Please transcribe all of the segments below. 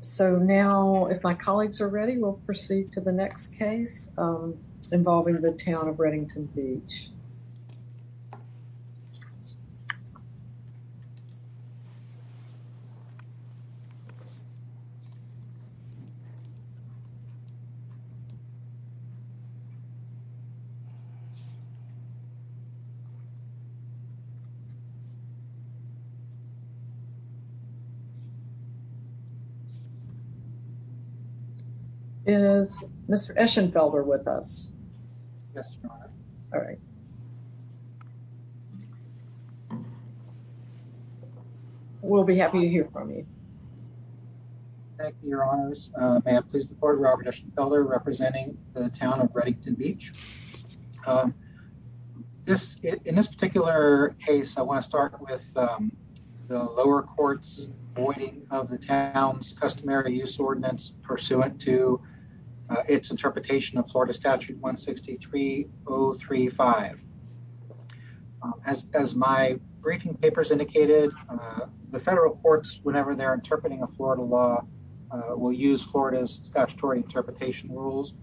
So now if my colleagues are ready we'll proceed to the next case involving the Town of Redington Beach. Is Mr. Eschenfelder with us? Yes, Your Honor. All right. We'll be happy to hear from you. Thank you, Your Honors. May I please report, Robert Eschenfelder representing the Town of Redington Beach. In this particular case, I want to start with the lower court's voiding of the town's customary use ordinance pursuant to its interpretation of Florida Statute 163-035. As my briefing papers indicated, the federal courts, whenever they're interpreting a Florida law, will use Florida's statutory interpretation rules,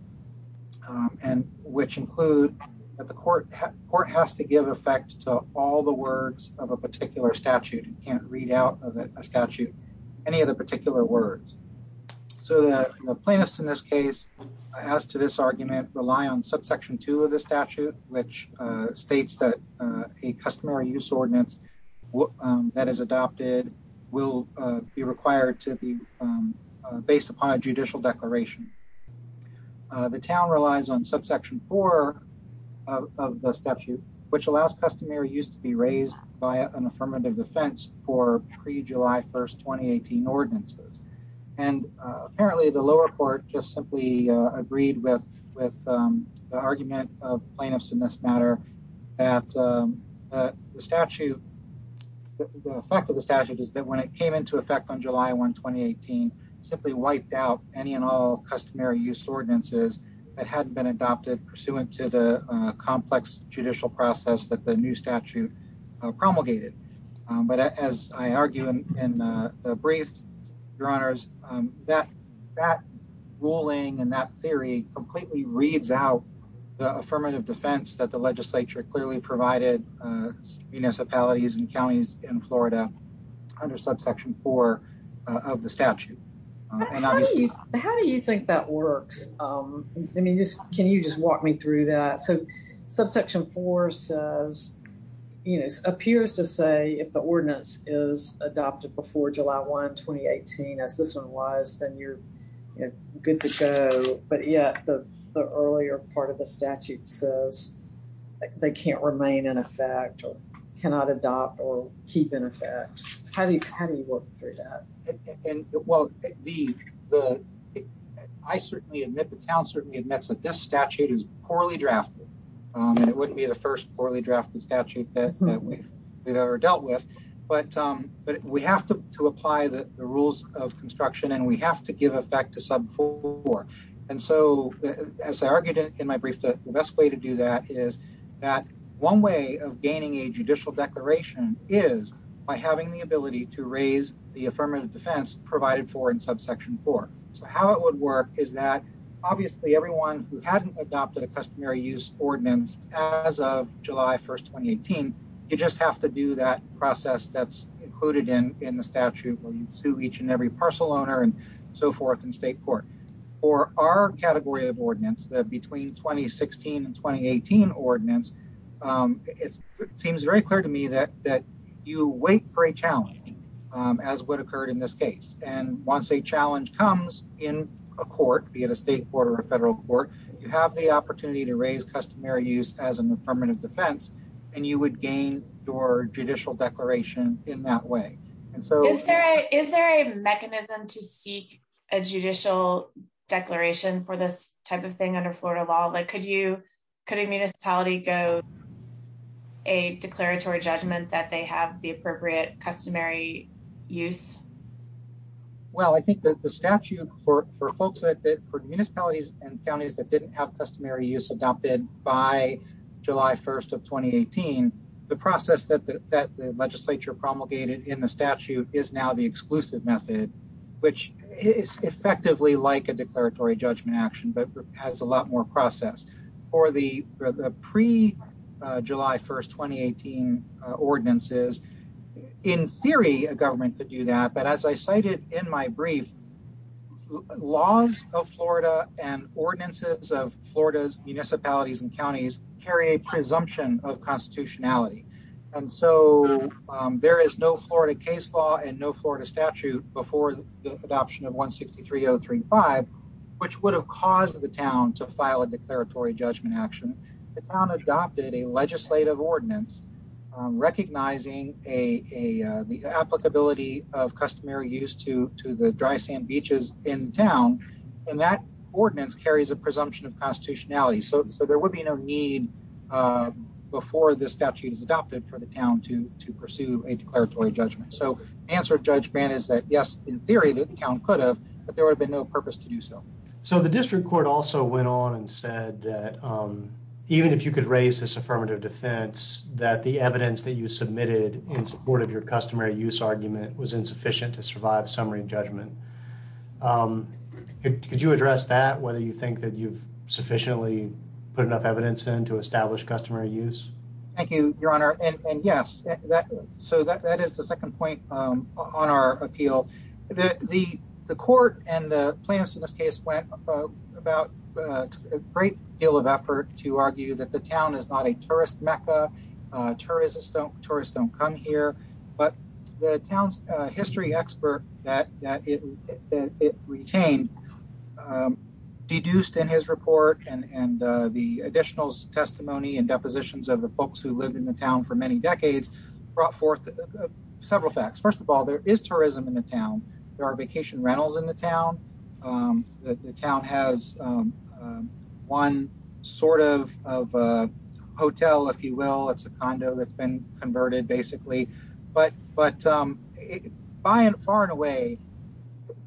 which include that the court has to give effect to all the words of a particular statute. You can't read out of a statute any of the particular words. So the plaintiffs in this case, as to this argument, rely on subsection two of the statute, which states that a customary use ordinance that is adopted will be required to be based upon a judicial declaration. The town relies on subsection four of the statute, which allows customary use to be raised by an affirmative defense for pre-July 1st, 2018 ordinances. And apparently the lower court just simply agreed with the argument of plaintiffs in this matter that the statute, the fact of the statute is that when it came into effect on July 1, 2018, simply wiped out any and all customary use ordinances that hadn't been adopted pursuant to the complex judicial process that the new statute promulgated. But as I argue in the brief, your honors, that ruling and that theory completely reads out the affirmative defense that the legislature clearly provided municipalities and counties in Florida under subsection four of the statute. How do you think that works? I mean, can you just walk me through that? So subsection four says, you know, appears to say if the ordinance is adopted before July 1, 2018, as this one was, then you're good to go. But yet the earlier part of the statute says they can't remain in effect or cannot adopt or keep in effect. How do you work through that? Well, I certainly admit the town certainly admits that this statute is poorly drafted. And it wouldn't be the first poorly drafted statute that we've ever dealt with. But we have to apply the rules of construction and we have to give effect to sub four. And so, as I argued in my brief, the best way to do that is that one way of gaining a judicial declaration is by having the ability to raise the affirmative defense provided for in subsection four. So how it would work is that, obviously, everyone who hadn't adopted a customary use ordinance as of July 1, 2018, you just have to do that process that's included in the statute where you sue each and every parcel owner and so forth in state court. For our category of ordinance that between 2016 and 2018 ordinance, it seems very clear to me that you wait for a challenge, as what occurred in this case. And once a challenge comes in a court, be it a state court or a federal court, you have the opportunity to raise customary use as an affirmative defense, and you would gain your judicial declaration in that way. Is there a mechanism to seek a judicial declaration for this type of thing under Florida law? Could a municipality go a declaratory judgment that they have the appropriate customary use? Well, I think that the statute for municipalities and counties that didn't have customary use adopted by July 1 of 2018, the process that the legislature promulgated in the statute is now the exclusive method, which is effectively like a declaratory judgment action, but has a lot more process. For the pre-July 1, 2018 ordinances, in theory, a government could do that, but as I cited in my brief, laws of Florida and ordinances of Florida's municipalities and counties carry a presumption of constitutionality. And so there is no Florida case law and no Florida statute before the adoption of 163035, which would have caused the town to file a declaratory judgment action. The town adopted a legislative ordinance recognizing the applicability of customary use to the dry sand beaches in town, and that ordinance carries a presumption of constitutionality. So there would be no need before the statute is adopted for the town to pursue a declaratory judgment. So the answer to Judge Brandt is that, yes, in theory, the town could have, but there would have been no purpose to do so. So the district court also went on and said that even if you could raise this affirmative defense, that the evidence that you submitted in support of your customary use argument was insufficient to survive summary judgment. Could you address that, whether you think that you've sufficiently put enough evidence in to establish customary use? Thank you, Your Honor. And yes, so that is the second point on our appeal. The court and the plaintiffs in this case went about a great deal of effort to argue that the town is not a tourist Mecca. Tourists don't come here. But the town's history expert that it retained, deduced in his report and the additional testimony and depositions of the folks who lived in the town for many decades, brought forth several facts. First of all, there is tourism in the town. There are vacation rentals in the town. The town has one sort of hotel, if you will. It's a condo that's been converted, basically. But by and far and away,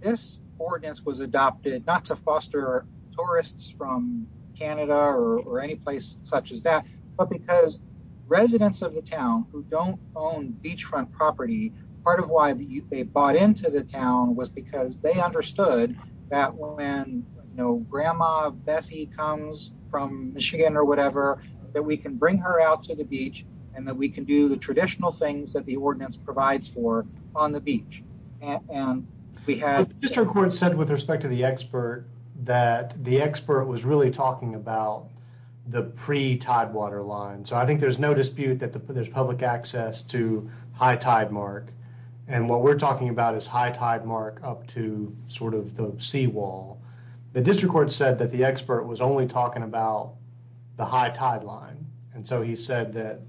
this ordinance was adopted not to foster tourists from Canada or any place such as that, but because residents of the town who don't own beachfront property. Part of why they bought into the town was because they understood that when, you know, Grandma Bessie comes from Michigan or whatever, that we can bring her out to the beach and that we can do the traditional things that the ordinance provides for on the beach. The district court said with respect to the expert that the expert was really talking about the pre-tidewater line. So I think there's no dispute that there's public access to high tide mark. And what we're talking about is high tide mark up to sort of the seawall. The district court said that the expert was only talking about the high tide line. And so he said that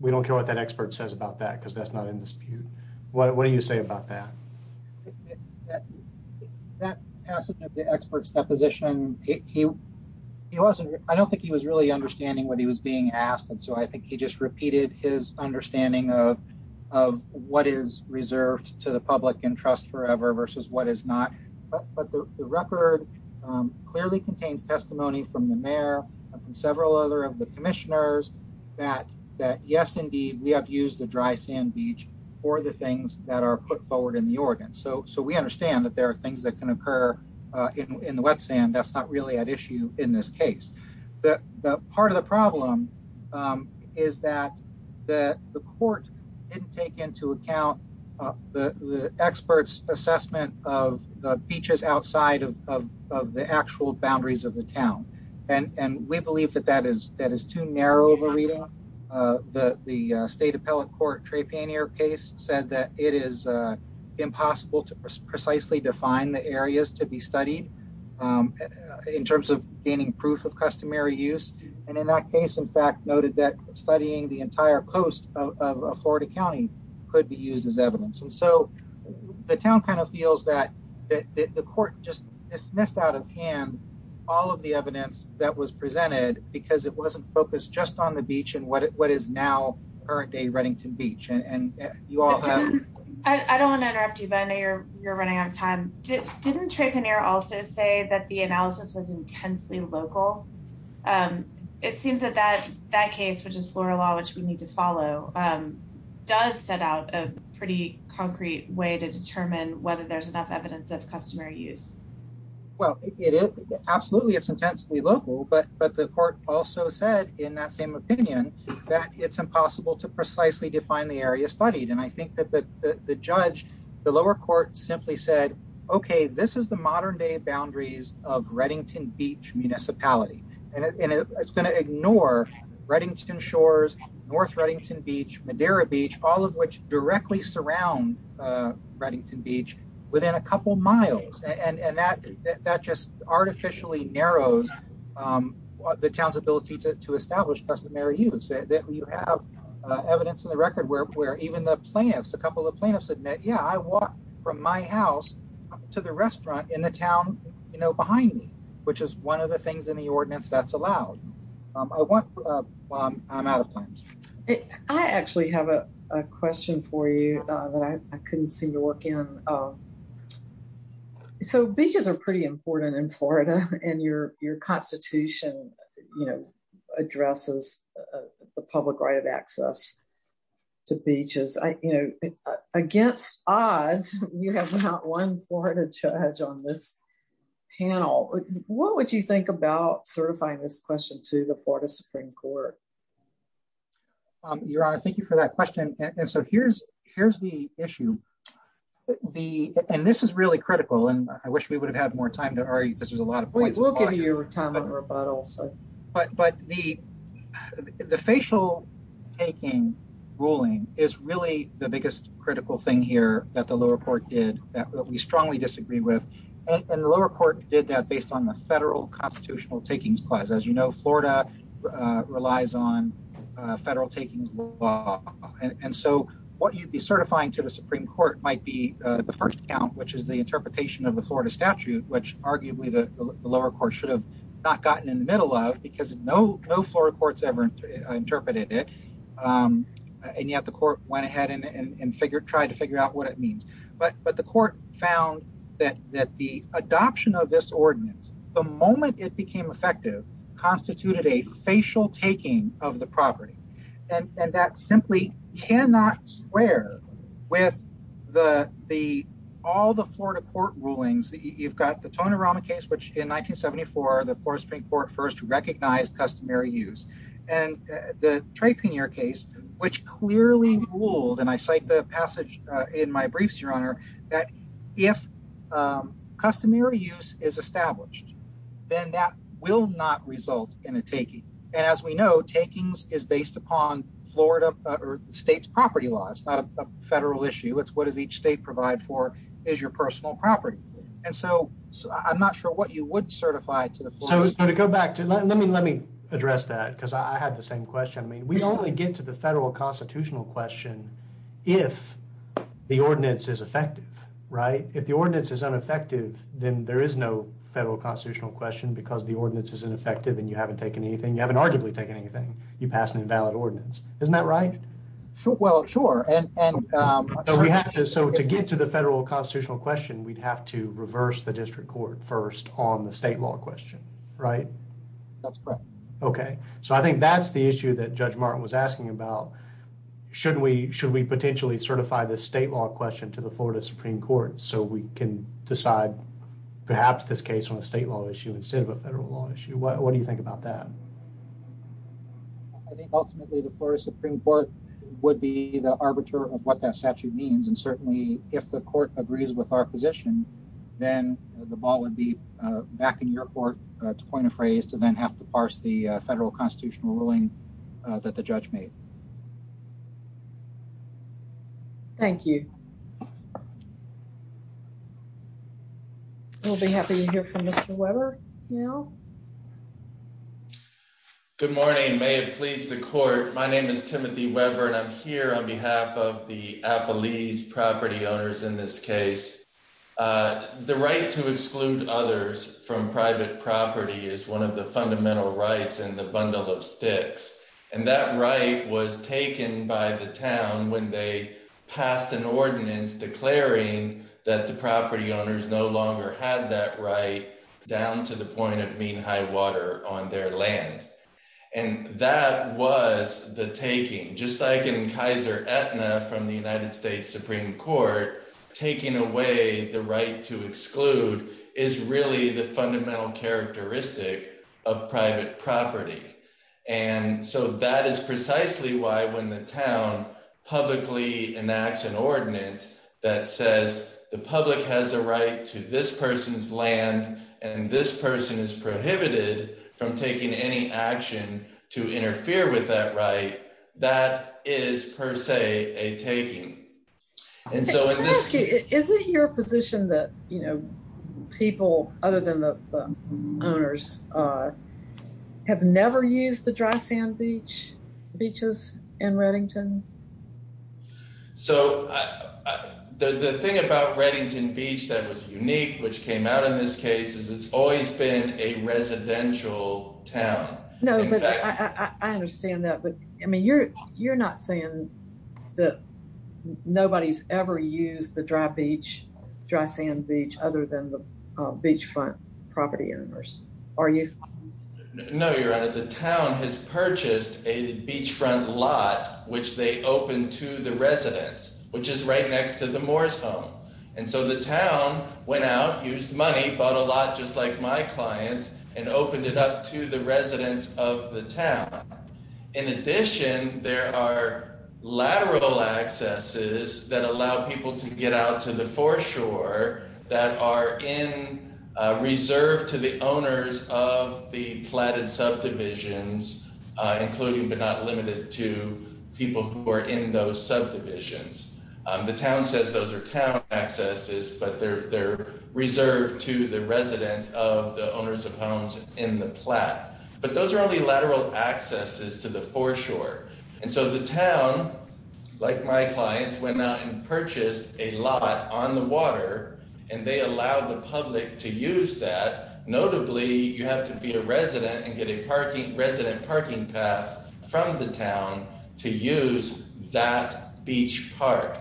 we don't care what that expert says about that because that's not in dispute. What do you say about that? That passage of the expert's deposition, he wasn't, I don't think he was really understanding what he was being asked. And so I think he just repeated his understanding of what is reserved to the public and trust forever versus what is not. But the record clearly contains testimony from the mayor and from several other of the commissioners that yes, indeed, we have used the dry sand beach for the things that are put forward in the ordinance. So we understand that there are things that can occur in the wet sand. That's not really an issue in this case. Part of the problem is that the court didn't take into account the expert's assessment of the beaches outside of the actual boundaries of the town. And we believe that that is too narrow of a reading. The state appellate court Trapanier case said that it is impossible to precisely define the areas to be studied in terms of gaining proof of customary use. And in that case, in fact, noted that studying the entire coast of Florida County could be used as evidence. And so the town kind of feels that the court just missed out of hand all of the evidence that was presented because it wasn't focused just on the beach and what is now current day Reddington Beach. I don't want to interrupt you, but I know you're running out of time. Didn't Trapanier also say that the analysis was intensely local? It seems that that case, which is Florida law, which we need to follow, does set out a pretty concrete way to determine whether there's enough evidence of customary use. Well, it is. Absolutely. It's intensely local, but the court also said in that same opinion that it's impossible to precisely define the area studied. And I think that the judge, the lower court simply said, okay, this is the modern day boundaries of Reddington Beach municipality. And it's going to ignore Reddington Shores, North Reddington Beach, Madera Beach, all of which directly surround Reddington Beach within a couple miles. And that just artificially narrows the town's ability to establish customary use. And I think it's interesting that you have evidence in the record where even the plaintiffs, a couple of plaintiffs admit, yeah, I walked from my house to the restaurant in the town behind me, which is one of the things in the ordinance that's allowed. I'm out of time. I actually have a question for you that I couldn't seem to work in. So beaches are pretty important in Florida, and your constitution addresses the public right of access to beaches. Against odds, you have not one Florida judge on this panel. What would you think about certifying this question to the Florida Supreme Court? Your Honor, thank you for that question. And so here's the issue. And this is really critical, and I wish we would have had more time to argue because there's a lot of points. We will give you time and rebuttal. But the facial taking ruling is really the biggest critical thing here that the lower court did that we strongly disagree with. And the lower court did that based on the federal constitutional takings clause. As you know, Florida relies on federal takings law. And so what you'd be certifying to the Supreme Court might be the first count, which is the interpretation of the Florida statute, which arguably the lower court should have not gotten in the middle of because no Florida courts ever interpreted it. And yet the court went ahead and tried to figure out what it means. But the court found that the adoption of this ordinance, the moment it became effective, constituted a facial taking of the property. And that simply cannot square with all the Florida court rulings. You've got the Tonerama case, which in 1974, the Florida Supreme Court first recognized customary use. And the Trepannier case, which clearly ruled, and I cite the passage in my briefs, Your Honor, that if customary use is established, then that will not result in a taking. And as we know, takings is based upon Florida or the state's property law. It's not a federal issue. It's what does each state provide for is your personal property. And so I'm not sure what you would certify to go back to. Let me let me address that because I had the same question. I mean, we only get to the federal constitutional question if the ordinance is effective. Right. If the ordinance is ineffective, then there is no federal constitutional question because the ordinance is ineffective and you haven't taken anything. You haven't arguably taken anything. You pass an invalid ordinance. Isn't that right? Well, sure. And so to get to the federal constitutional question, we'd have to reverse the district court first on the state law question. Right. That's correct. Okay. So I think that's the issue that Judge Martin was asking about. Shouldn't we should we potentially certify the state law question to the Florida Supreme Court so we can decide perhaps this case on a state law issue instead of a federal law issue? What do you think about that? I think ultimately the Florida Supreme Court would be the arbiter of what that statute means. And certainly, if the court agrees with our position, then the ball would be back in your court to point a phrase to then have to parse the federal constitutional ruling that the judge made. Thank you. We'll be happy to hear from Mr. Weber. Good morning. May it please the court. My name is Timothy Weber and I'm here on behalf of the Appalachian property owners in this case. The right to exclude others from private property is one of the fundamental rights and the bundle of sticks. And that right was taken by the town when they passed an ordinance declaring that the property owners no longer had that right down to the point of mean high water on their land. And that was the taking, just like in Kaiser Aetna from the United States Supreme Court, taking away the right to exclude is really the fundamental characteristic of private property. And so that is precisely why when the town publicly enacts an ordinance that says the public has a right to this person's land and this person is prohibited from taking any action to interfere with that right, that is per se a taking. And so is it your position that, you know, people other than the owners have never used the dry sand beach beaches in Reddington? So the thing about Reddington Beach that was unique, which came out in this case, is it's always been a residential town. No, but I understand that. But I mean, you're not saying that nobody's ever used the dry beach, dry sand beach other than the beachfront property owners, are you? No, you're right. The town has purchased a beachfront lot, which they opened to the residents, which is right next to the Moore's home. And so the town went out, used money, bought a lot, just like my clients, and opened it up to the residents of the town. In addition, there are lateral accesses that allow people to get out to the foreshore that are in reserve to the owners of the platted subdivisions, including but not limited to people who are in those subdivisions. The town says those are town accesses, but they're reserved to the residents of the owners of homes in the plat. But those are only lateral accesses to the foreshore. And so the town, like my clients, went out and purchased a lot on the water, and they allowed the public to use that. Notably, you have to be a resident and get a parking resident parking pass from the town to use that beach park.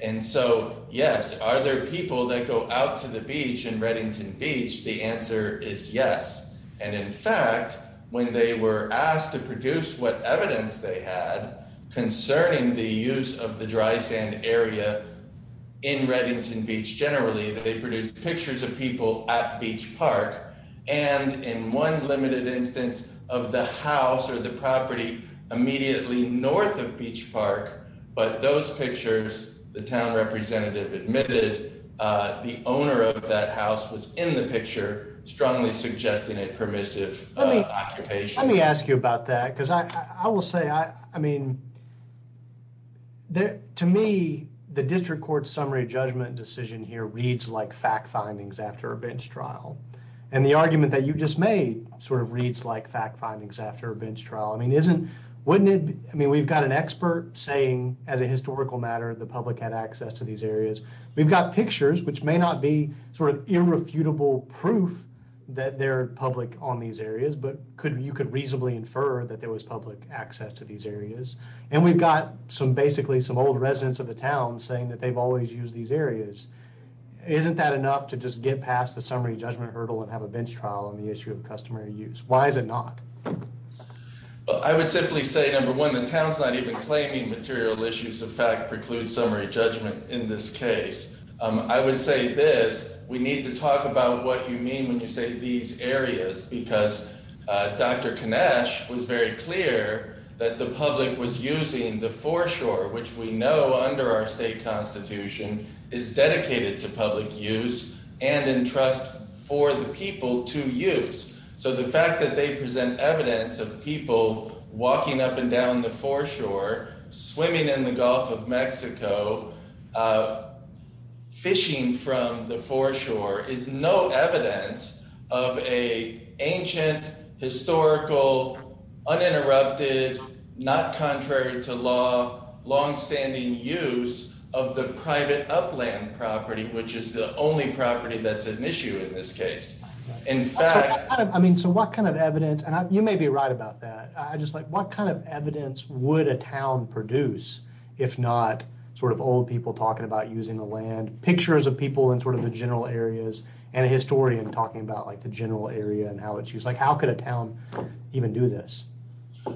And so, yes, are there people that go out to the beach in Reddington Beach? The answer is yes. And in fact, when they were asked to produce what evidence they had concerning the use of the dry sand area in Reddington Beach, generally, they produced pictures of people at Beach Park. And in one limited instance of the house or the property immediately north of Beach Park, but those pictures, the town representative admitted the owner of that house was in the picture, strongly suggesting a permissive occupation. Let me ask you about that, because I will say, I mean, to me, the district court summary judgment decision here reads like fact findings after a bench trial. And the argument that you just made sort of reads like fact findings after a bench trial. I mean, isn't, wouldn't it, I mean, we've got an expert saying as a historical matter, the public had access to these areas. We've got pictures, which may not be sort of irrefutable proof that they're public on these areas, but could you could reasonably infer that there was public access to these areas. And we've got some basically some old residents of the town saying that they've always used these areas. Isn't that enough to just get past the summary judgment hurdle and have a bench trial on the issue of customary use? Why is it not? I would simply say, number one, the town's not even claiming material issues of fact preclude summary judgment. In this case, I would say this. We need to talk about what you mean when you say these areas, because Dr. evidence of people walking up and down the foreshore swimming in the Gulf of Mexico fishing from the foreshore is no evidence of a ancient historical uninterrupted, not contrary to law, long standing use of the private upland property, which is the only property that's an issue in this case. In fact, I mean, so what kind of evidence and you may be right about that. I just like what kind of evidence, would a town produce, if not sort of old people talking about using the land pictures of people in sort of the general areas, and a historian talking about like the general area and how it's used like how could a town, even do this.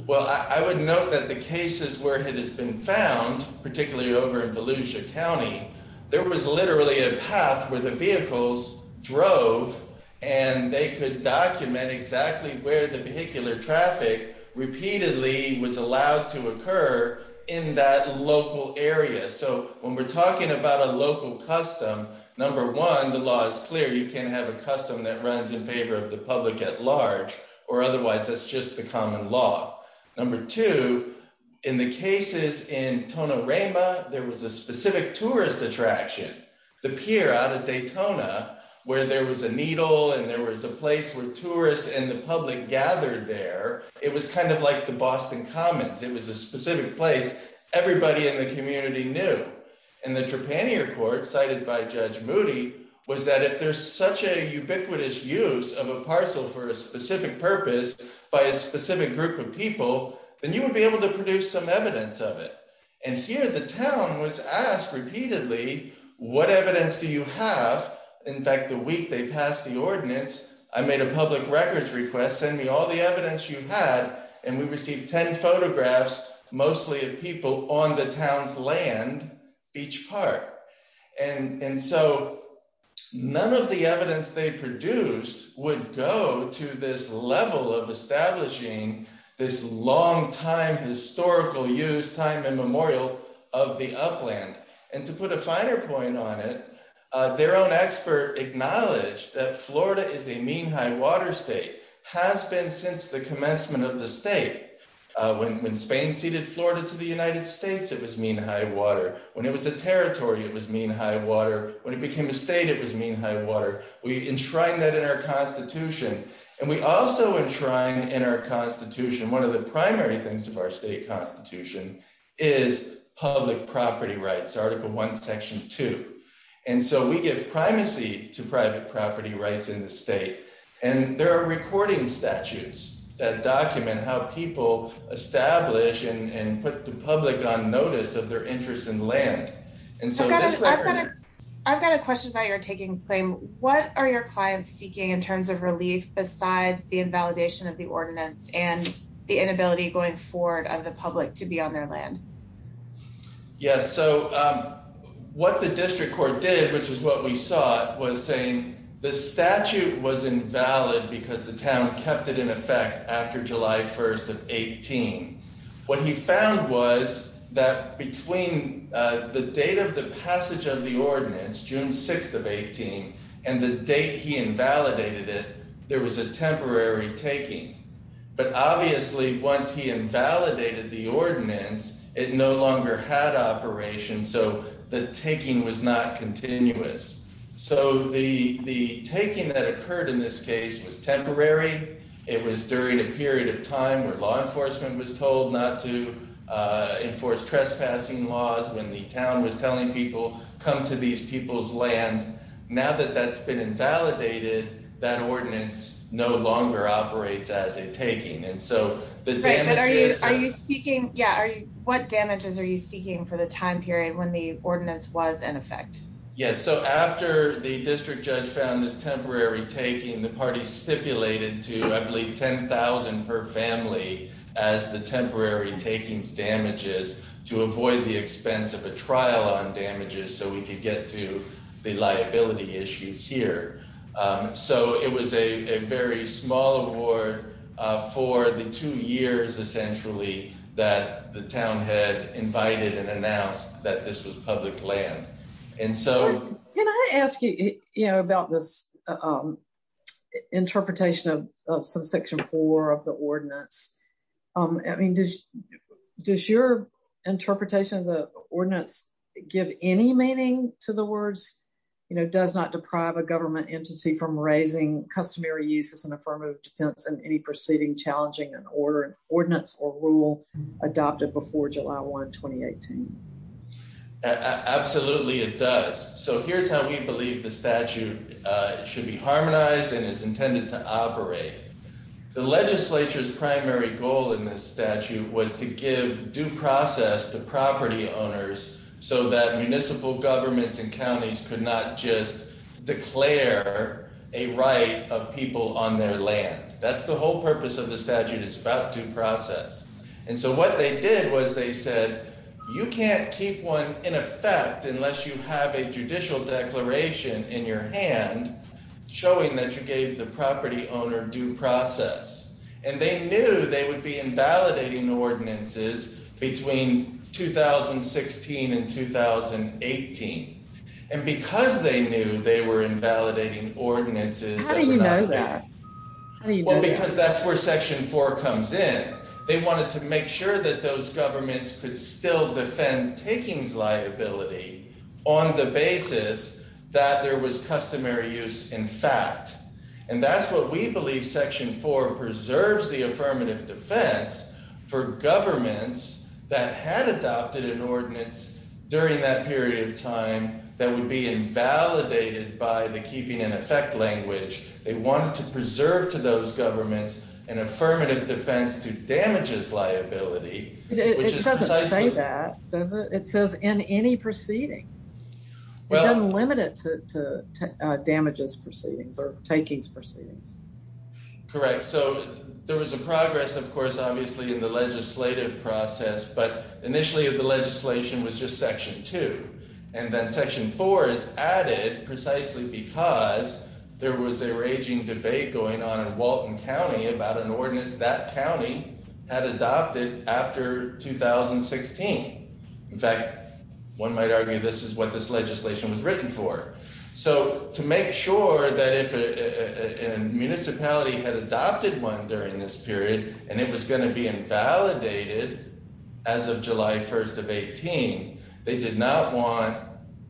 Well, I would note that the cases where it has been found, particularly over in Volusia County, there was literally a path where the vehicles drove, and they could document exactly where the vehicular traffic repeatedly was allowed to occur in that local area. So when we're talking about a local custom. Number one, the law is clear, you can have a custom that runs in favor of the public at large, or otherwise that's just the common law. Number two, in the cases in Tonorama, there was a specific tourist attraction, the pier out of Daytona, where there was a needle and there was a place where tourists and the public gathered there. It was kind of like the Boston Commons, it was a specific place, everybody in the community knew. And the Trepannier Court cited by Judge Moody was that if there's such a ubiquitous use of a parcel for a specific purpose by a specific group of people, then you would be able to produce some evidence of it. And here the town was asked repeatedly, what evidence do you have? In fact, the week they passed the ordinance, I made a public records request, send me all the evidence you had, and we received 10 photographs, mostly of people on the town's land, each part. And so none of the evidence they produced would go to this level of establishing this longtime historical use, time immemorial of the upland. And to put a finer point on it, their own expert acknowledged that Florida is a mean high water state, has been since the commencement of the state. When Spain ceded Florida to the United States, it was mean high water. When it was a territory, it was mean high water. When it became a state, it was mean high water. We enshrined that in our constitution. And we also enshrined in our constitution, one of the primary things of our state constitution, is public property rights, Article 1, Section 2. And so we give primacy to private property rights in the state. And there are recording statutes that document how people establish and put the public on notice of their interest in land. And so I've got a question about your takings claim. What are your clients seeking in terms of relief besides the invalidation of the ordinance and the inability going forward of the public to be on their land? Yes, so what the district court did, which is what we saw, was saying the statute was invalid because the town kept it in effect after July 1st of 18. What he found was that between the date of the passage of the ordinance, June 6th of 18, and the date he invalidated it, there was a temporary taking. But obviously, once he invalidated the ordinance, it no longer had operation. So the taking was not continuous. So the taking that occurred in this case was temporary. It was during a period of time where law enforcement was told not to enforce trespassing laws, when the town was telling people, come to these people's land. Now that that's been invalidated, that ordinance no longer operates as a taking. And so the damage… Right, but are you seeking, yeah, what damages are you seeking for the time period when the ordinance was in effect? Yes, so after the district judge found this temporary taking, the party stipulated to, I believe, $10,000 per family as the temporary takings damages to avoid the expense of a trial on damages so we could get to the liability issue here. So it was a very small award for the two years, essentially, that the town had invited and announced that this was public land. And so… Any meaning to the words, you know, does not deprive a government entity from raising customary uses and affirmative defense in any proceeding challenging an order, ordinance, or rule adopted before July 1, 2018? Absolutely, it does. So here's how we believe the statute should be harmonized and is intended to operate. The legislature's primary goal in this statute was to give due process to property owners so that municipal governments and counties could not just declare a right of people on their land. That's the whole purpose of the statute is about due process. And so what they did was they said, you can't keep one in effect unless you have a judicial declaration in your hand, showing that you gave the property owner due process. And they knew they would be invalidating ordinances between 2016 and 2018. And because they knew they were invalidating ordinances… Well, because that's where Section 4 comes in. They wanted to make sure that those governments could still defend takings liability on the basis that there was customary use in fact. And that's what we believe Section 4 preserves the affirmative defense for governments that had adopted an ordinance during that period of time that would be invalidated by the keeping in effect language. They wanted to preserve to those governments an affirmative defense to damages liability. It doesn't say that, does it? It says in any proceeding. It doesn't limit it to damages proceedings or takings proceedings. Correct. So there was a progress, of course, obviously, in the legislative process. But initially, the legislation was just Section 2. And then Section 4 is added precisely because there was a raging debate going on in Walton County about an ordinance that county had adopted after 2016. In fact, one might argue this is what this legislation was written for. So to make sure that if a municipality had adopted one during this period, and it was going to be invalidated as of July 1st of 2018, they did not want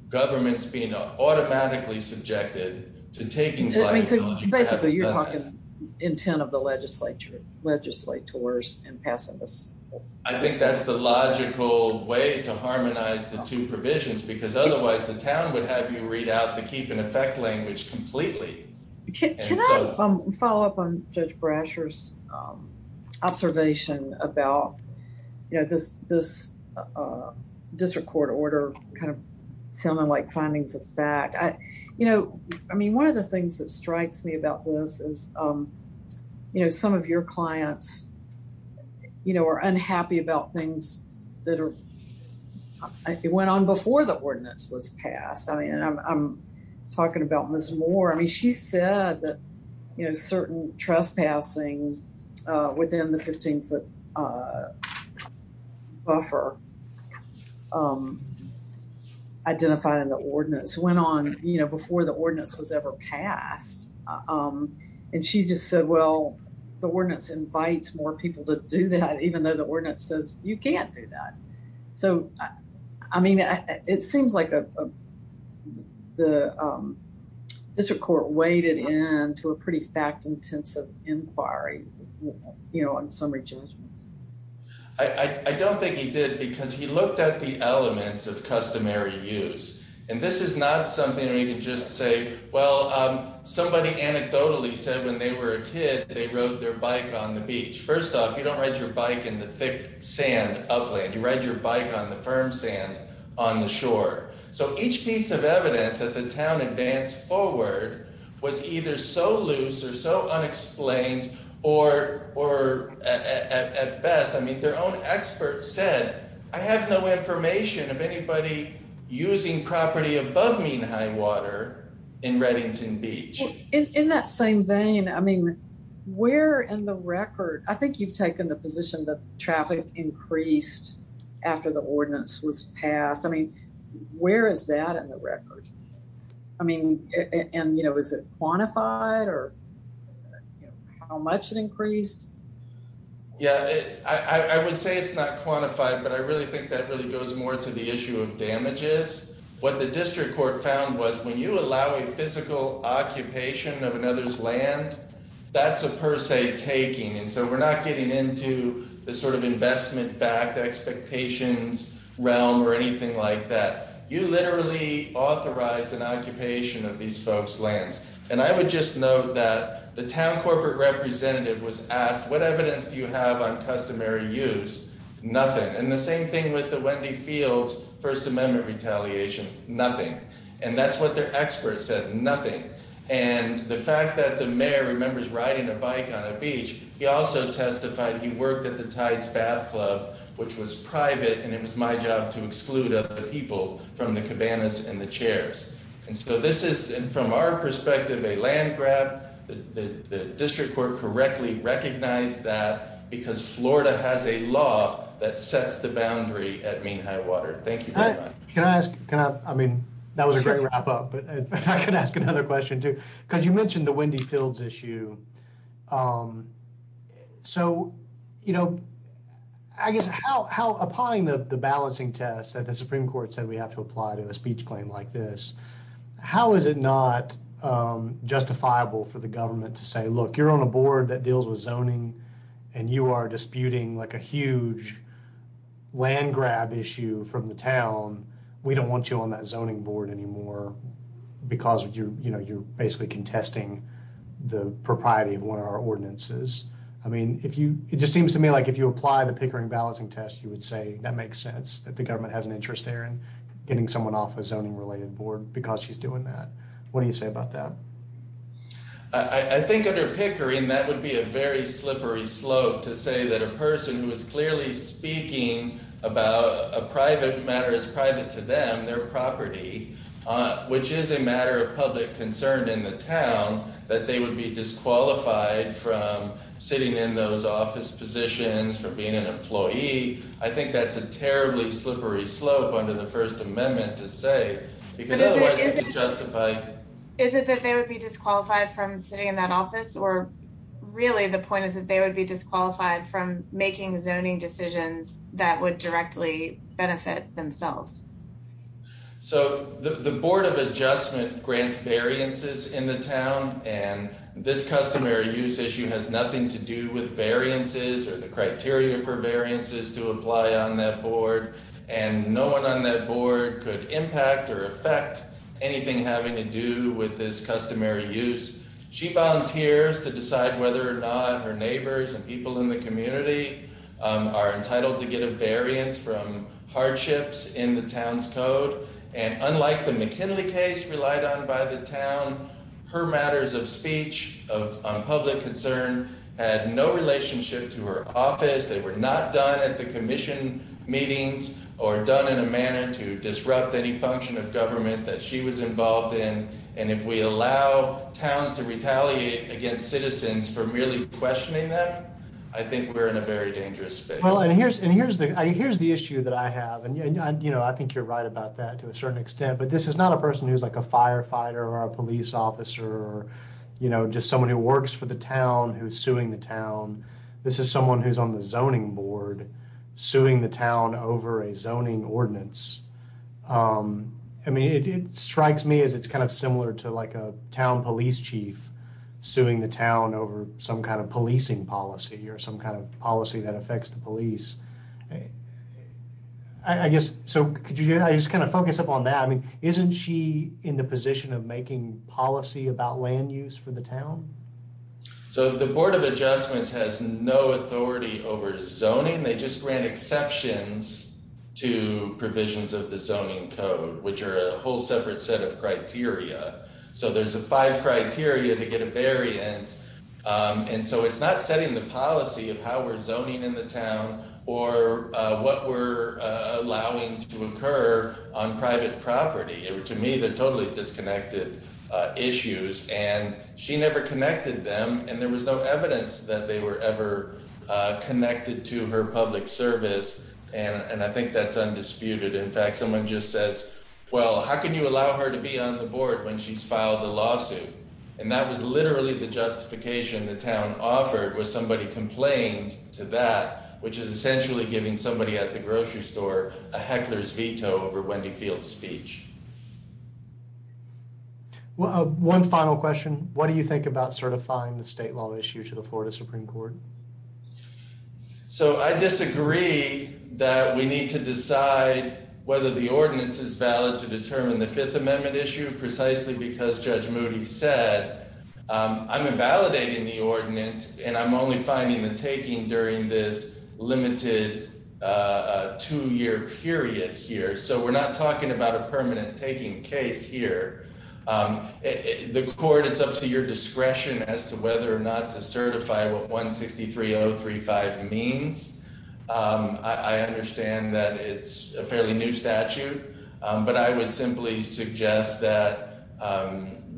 governments being automatically subjected to taking liability. Basically, you're talking intent of the legislature, legislators and passivists. I think that's the logical way to harmonize the two provisions, because otherwise the town would have you read out the keep in effect language completely. Can I follow up on Judge Brasher's observation about this district court order kind of sounding like findings of fact? One of the things that strikes me about this is some of your clients are unhappy about things that went on before the ordinance was passed. I'm talking about Ms. Moore. I mean, she said that certain trespassing within the 15-foot buffer identifying the ordinance went on before the ordinance was ever passed. And she just said, well, the ordinance invites more people to do that, even though the ordinance says you can't do that. So, I mean, it seems like the district court waded into a pretty fact-intensive inquiry on summary judgment. I don't think he did, because he looked at the elements of customary use. And this is not something you can just say, well, somebody anecdotally said when they were a kid, they rode their bike on the beach. First off, you don't ride your bike in the thick sand upland. You ride your bike on the firm sand on the shore. So, each piece of evidence that the town advanced forward was either so loose or so unexplained, or at best, I mean, their own experts said, I have no information of anybody using property above Mean High Water in Reddington Beach. In that same vein, I mean, where in the record, I think you've taken the position that traffic increased after the ordinance was passed. I mean, where is that in the record? I mean, and, you know, is it quantified or how much it increased? Yeah, I would say it's not quantified, but I really think that really goes more to the issue of damages. What the district court found was when you allow a physical occupation of another's land, that's a per se taking. And so we're not getting into the sort of investment-backed expectations realm or anything like that. You literally authorized an occupation of these folks' lands. And I would just note that the town corporate representative was asked, what evidence do you have on customary use? Nothing. And the same thing with the Wendy Fields First Amendment retaliation. Nothing. And that's what their experts said. Nothing. And the fact that the mayor remembers riding a bike on a beach, he also testified he worked at the Tides Bath Club, which was private, and it was my job to exclude other people from the cabanas and the chairs. And so this is, from our perspective, a land grab. The district court correctly recognized that because Florida has a law that sets the boundary at Mean High Water. Thank you very much. Can I ask, I mean, that was a great wrap up, but if I could ask another question, too, because you mentioned the Wendy Fields issue. So, you know, I guess how, upon the balancing test that the Supreme Court said we have to apply to a speech claim like this, how is it not justifiable for the government to say, look, you're on a board that deals with zoning and you are disputing like a huge land grab issue from the town. We don't want you on that zoning board anymore because, you know, you're basically contesting the propriety of one of our ordinances. I mean, if you, it just seems to me like if you apply the Pickering balancing test, you would say that makes sense that the government has an interest there in getting someone off a zoning related board because she's doing that. What do you say about that? I think under Pickering, that would be a very slippery slope to say that a person who is clearly speaking about a private matter is private to them, their property, which is a matter of public concern in the town, that they would be disqualified from sitting in those office positions for being an employee. To me, I think that's a terribly slippery slope under the First Amendment to say, because otherwise it's justified. Is it that they would be disqualified from sitting in that office or really the point is that they would be disqualified from making zoning decisions that would directly benefit themselves. So the Board of Adjustment grants variances in the town, and this customary use issue has nothing to do with variances or the criteria for variances to apply on that board. And no one on that board could impact or affect anything having to do with this customary use. She volunteers to decide whether or not her neighbors and people in the community are entitled to get a variance from hardships in the town's code. And unlike the McKinley case relied on by the town, her matters of speech of public concern had no relationship to her office. They were not done at the commission meetings or done in a manner to disrupt any function of government that she was involved in. And if we allow towns to retaliate against citizens for merely questioning that, I think we're in a very dangerous space. And here's the here's the issue that I have. And, you know, I think you're right about that to a certain extent. But this is not a person who's like a firefighter or a police officer or, you know, just someone who works for the town who's suing the town. This is someone who's on the zoning board suing the town over a zoning ordinance. I mean, it strikes me as it's kind of similar to like a town police chief suing the town over some kind of policing policy or some kind of policy that affects the police. I guess. So could you just kind of focus up on that? I mean, isn't she in the position of making policy about land use for the town? So the Board of Adjustments has no authority over zoning. They just grant exceptions to provisions of the zoning code, which are a whole separate set of criteria. So there's a five criteria to get a variance. And so it's not setting the policy of how we're zoning in the town or what we're allowing to occur on private property. To me, they're totally disconnected issues and she never connected them. And there was no evidence that they were ever connected to her public service. And I think that's undisputed. In fact, someone just says, well, how can you allow her to be on the board when she's filed the lawsuit? And that was literally the justification the town offered was somebody complained to that, which is essentially giving somebody at the grocery store a heckler's veto over Wendy Field speech. Well, one final question. What do you think about certifying the state law issue to the Florida Supreme Court? So I disagree that we need to decide whether the ordinance is valid to determine the Fifth Amendment issue precisely because Judge Moody said I'm invalidating the ordinance. And I'm only finding the taking during this limited two year period here. So we're not talking about a permanent taking case here. The court, it's up to your discretion as to whether or not to certify what 163 035 means. I understand that it's a fairly new statute, but I would simply suggest that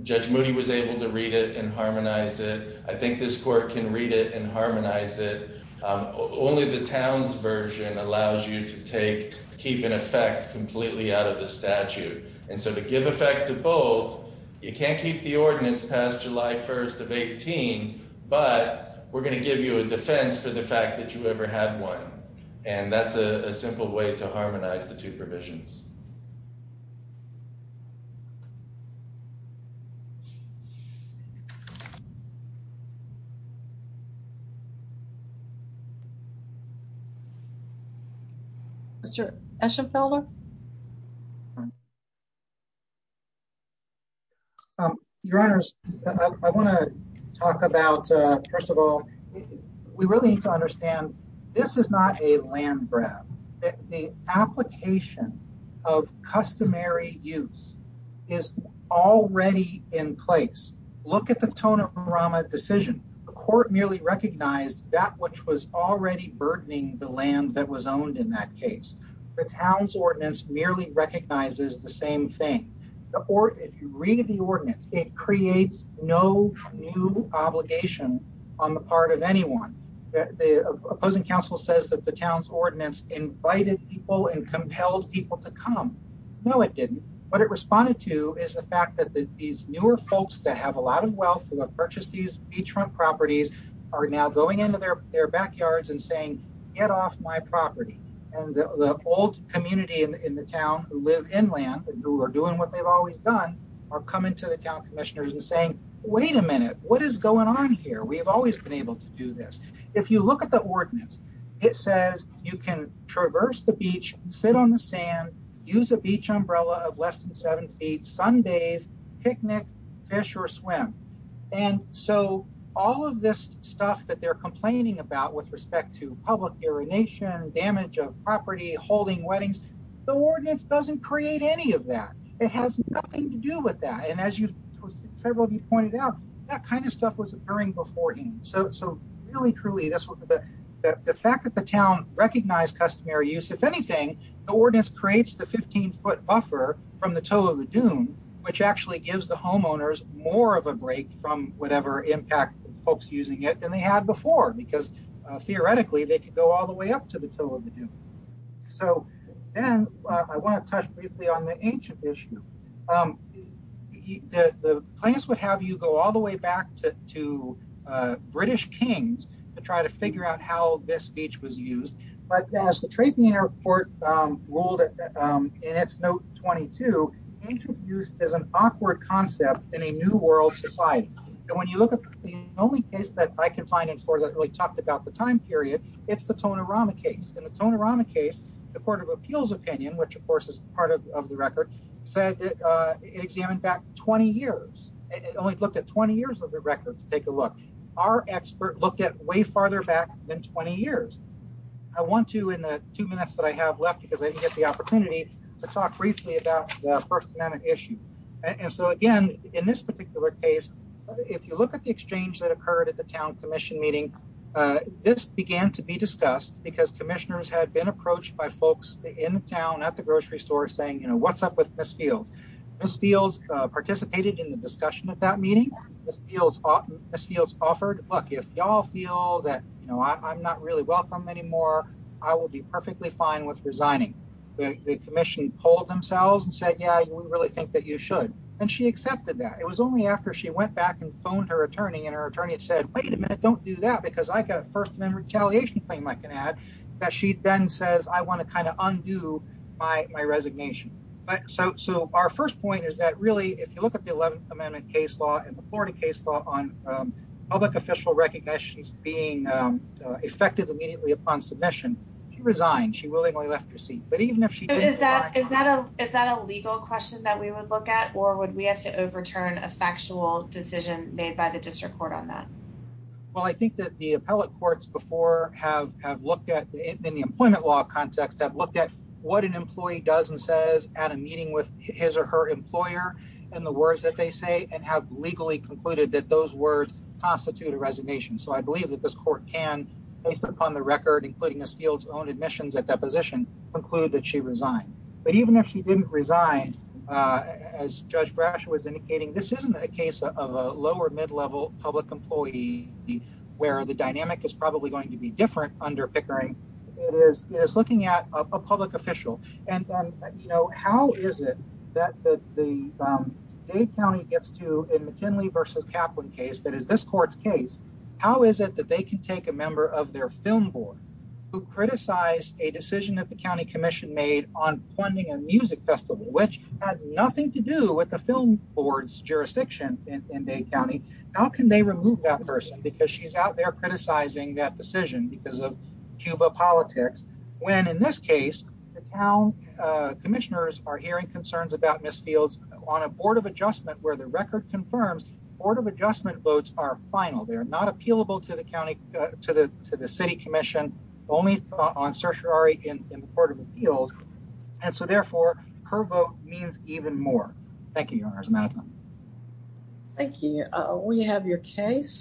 Judge Moody was able to read it and harmonize it. I think this court can read it and harmonize it. Only the town's version allows you to take keep in effect completely out of the statute. And so to give effect to both, you can't keep the ordinance past July 1st of 18, but we're going to give you a defense for the fact that you ever had one. And that's a simple way to harmonize the two provisions. Mr. Eschenfelder. Your Honors, I want to talk about, first of all, we really need to understand this is not a land grab. The application of customary use is already in place. Look at the tone of the decision. The court merely recognized that which was already burdening the land that was owned in that case. The town's ordinance merely recognizes the same thing. If you read the ordinance, it creates no new obligation on the part of anyone. The opposing counsel says that the town's ordinance invited people and compelled people to come. No, it didn't. What it responded to is the fact that these newer folks that have a lot of wealth and have purchased these beachfront properties are now going into their backyards and saying, get off my property. And the old community in the town who live inland who are doing what they've always done are coming to the town commissioners and saying, wait a minute, what is going on here we've always been able to do this. If you look at the ordinance, it says you can traverse the beach, sit on the sand, use a beach umbrella of less than seven feet Sunday picnic fish or swim. And so, all of this stuff that they're complaining about with respect to public urination damage of property holding weddings. The ordinance doesn't create any of that. It has nothing to do with that and as you several of you pointed out, that kind of stuff was occurring before him so so really truly this was the fact that the town recognize customary use if anything, the ordinance creates the 15 foot buffer from the toe of the dune, which actually gives the homeowners more of a break from whatever impact folks using it and they had before because theoretically they could go all the way up to the toe of the dune. So, then I want to touch briefly on the ancient issue. The place would have you go all the way back to, to British kings to try to figure out how this beach was used, but as the trading airport world. And it's no 22 interviews is an awkward concept in a new world society. And when you look at the only case that I can find it for that really talked about the time period, it's the tone of Rama case and the tone of Rama case, the Court of Appeals opinion which of course is part of the record said it examined back 20 years, it only looked at 20 years of the records, take a look. Our expert look at way farther back than 20 years. I want to in the two minutes that I have left because I get the opportunity to talk briefly about the first issue. And so again, in this particular case, if you look at the exchange that occurred at the town commission meeting. This began to be discussed because commissioners had been approached by folks in town at the grocery store saying you know what's up with this field. This fields participated in the discussion of that meeting. This feels this feels offered luck if y'all feel that, you know, I'm not really welcome anymore. I will be perfectly fine with resigning the commission hold themselves and said yeah you really think that you should, and she accepted that it was only after she went back and phoned her attorney and her attorney said, wait a minute, don't do that because I got a first claim I can add that she then says I want to kind of undo my resignation. But so, so our first point is that really if you look at the 11th Amendment case law and the Florida case law on public official recognitions being effective immediately upon submission resigned she willingly left your seat, but even if she is that is that is that a legal question that we would look at or would we have to overturn a factual decision made by the district court on that. Well I think that the appellate courts before have have looked at it in the employment law context that looked at what an employee doesn't says at a meeting with his or her employer, and the words that they say and have legally concluded that those words constitute a resignation so I believe that this court can based upon the record including this field's own admissions at that position, include that she resigned, but even if she didn't resign as Judge Brash was indicating this isn't a case of a lower employee, where the dynamic is probably going to be different under Pickering is looking at a public official, and you know how is it that the county gets to in McKinley versus Kaplan case that is this court's case, how is it that they can take a member of their film criticized a decision that the county commission made on funding and music festival which had nothing to do with the film boards jurisdiction in Dane County, how can they remove that person because she's out there criticizing that decision because of Cuba politics, when in this case, the town commissioners are hearing concerns about Miss fields on a Board of Adjustment where the record confirms Board of Adjustment votes are final they are not appealable to the county to the to the city commission only on tertiary in the Court of Appeals. And so therefore, her vote means even more. Thank you. Thank you. We have your case.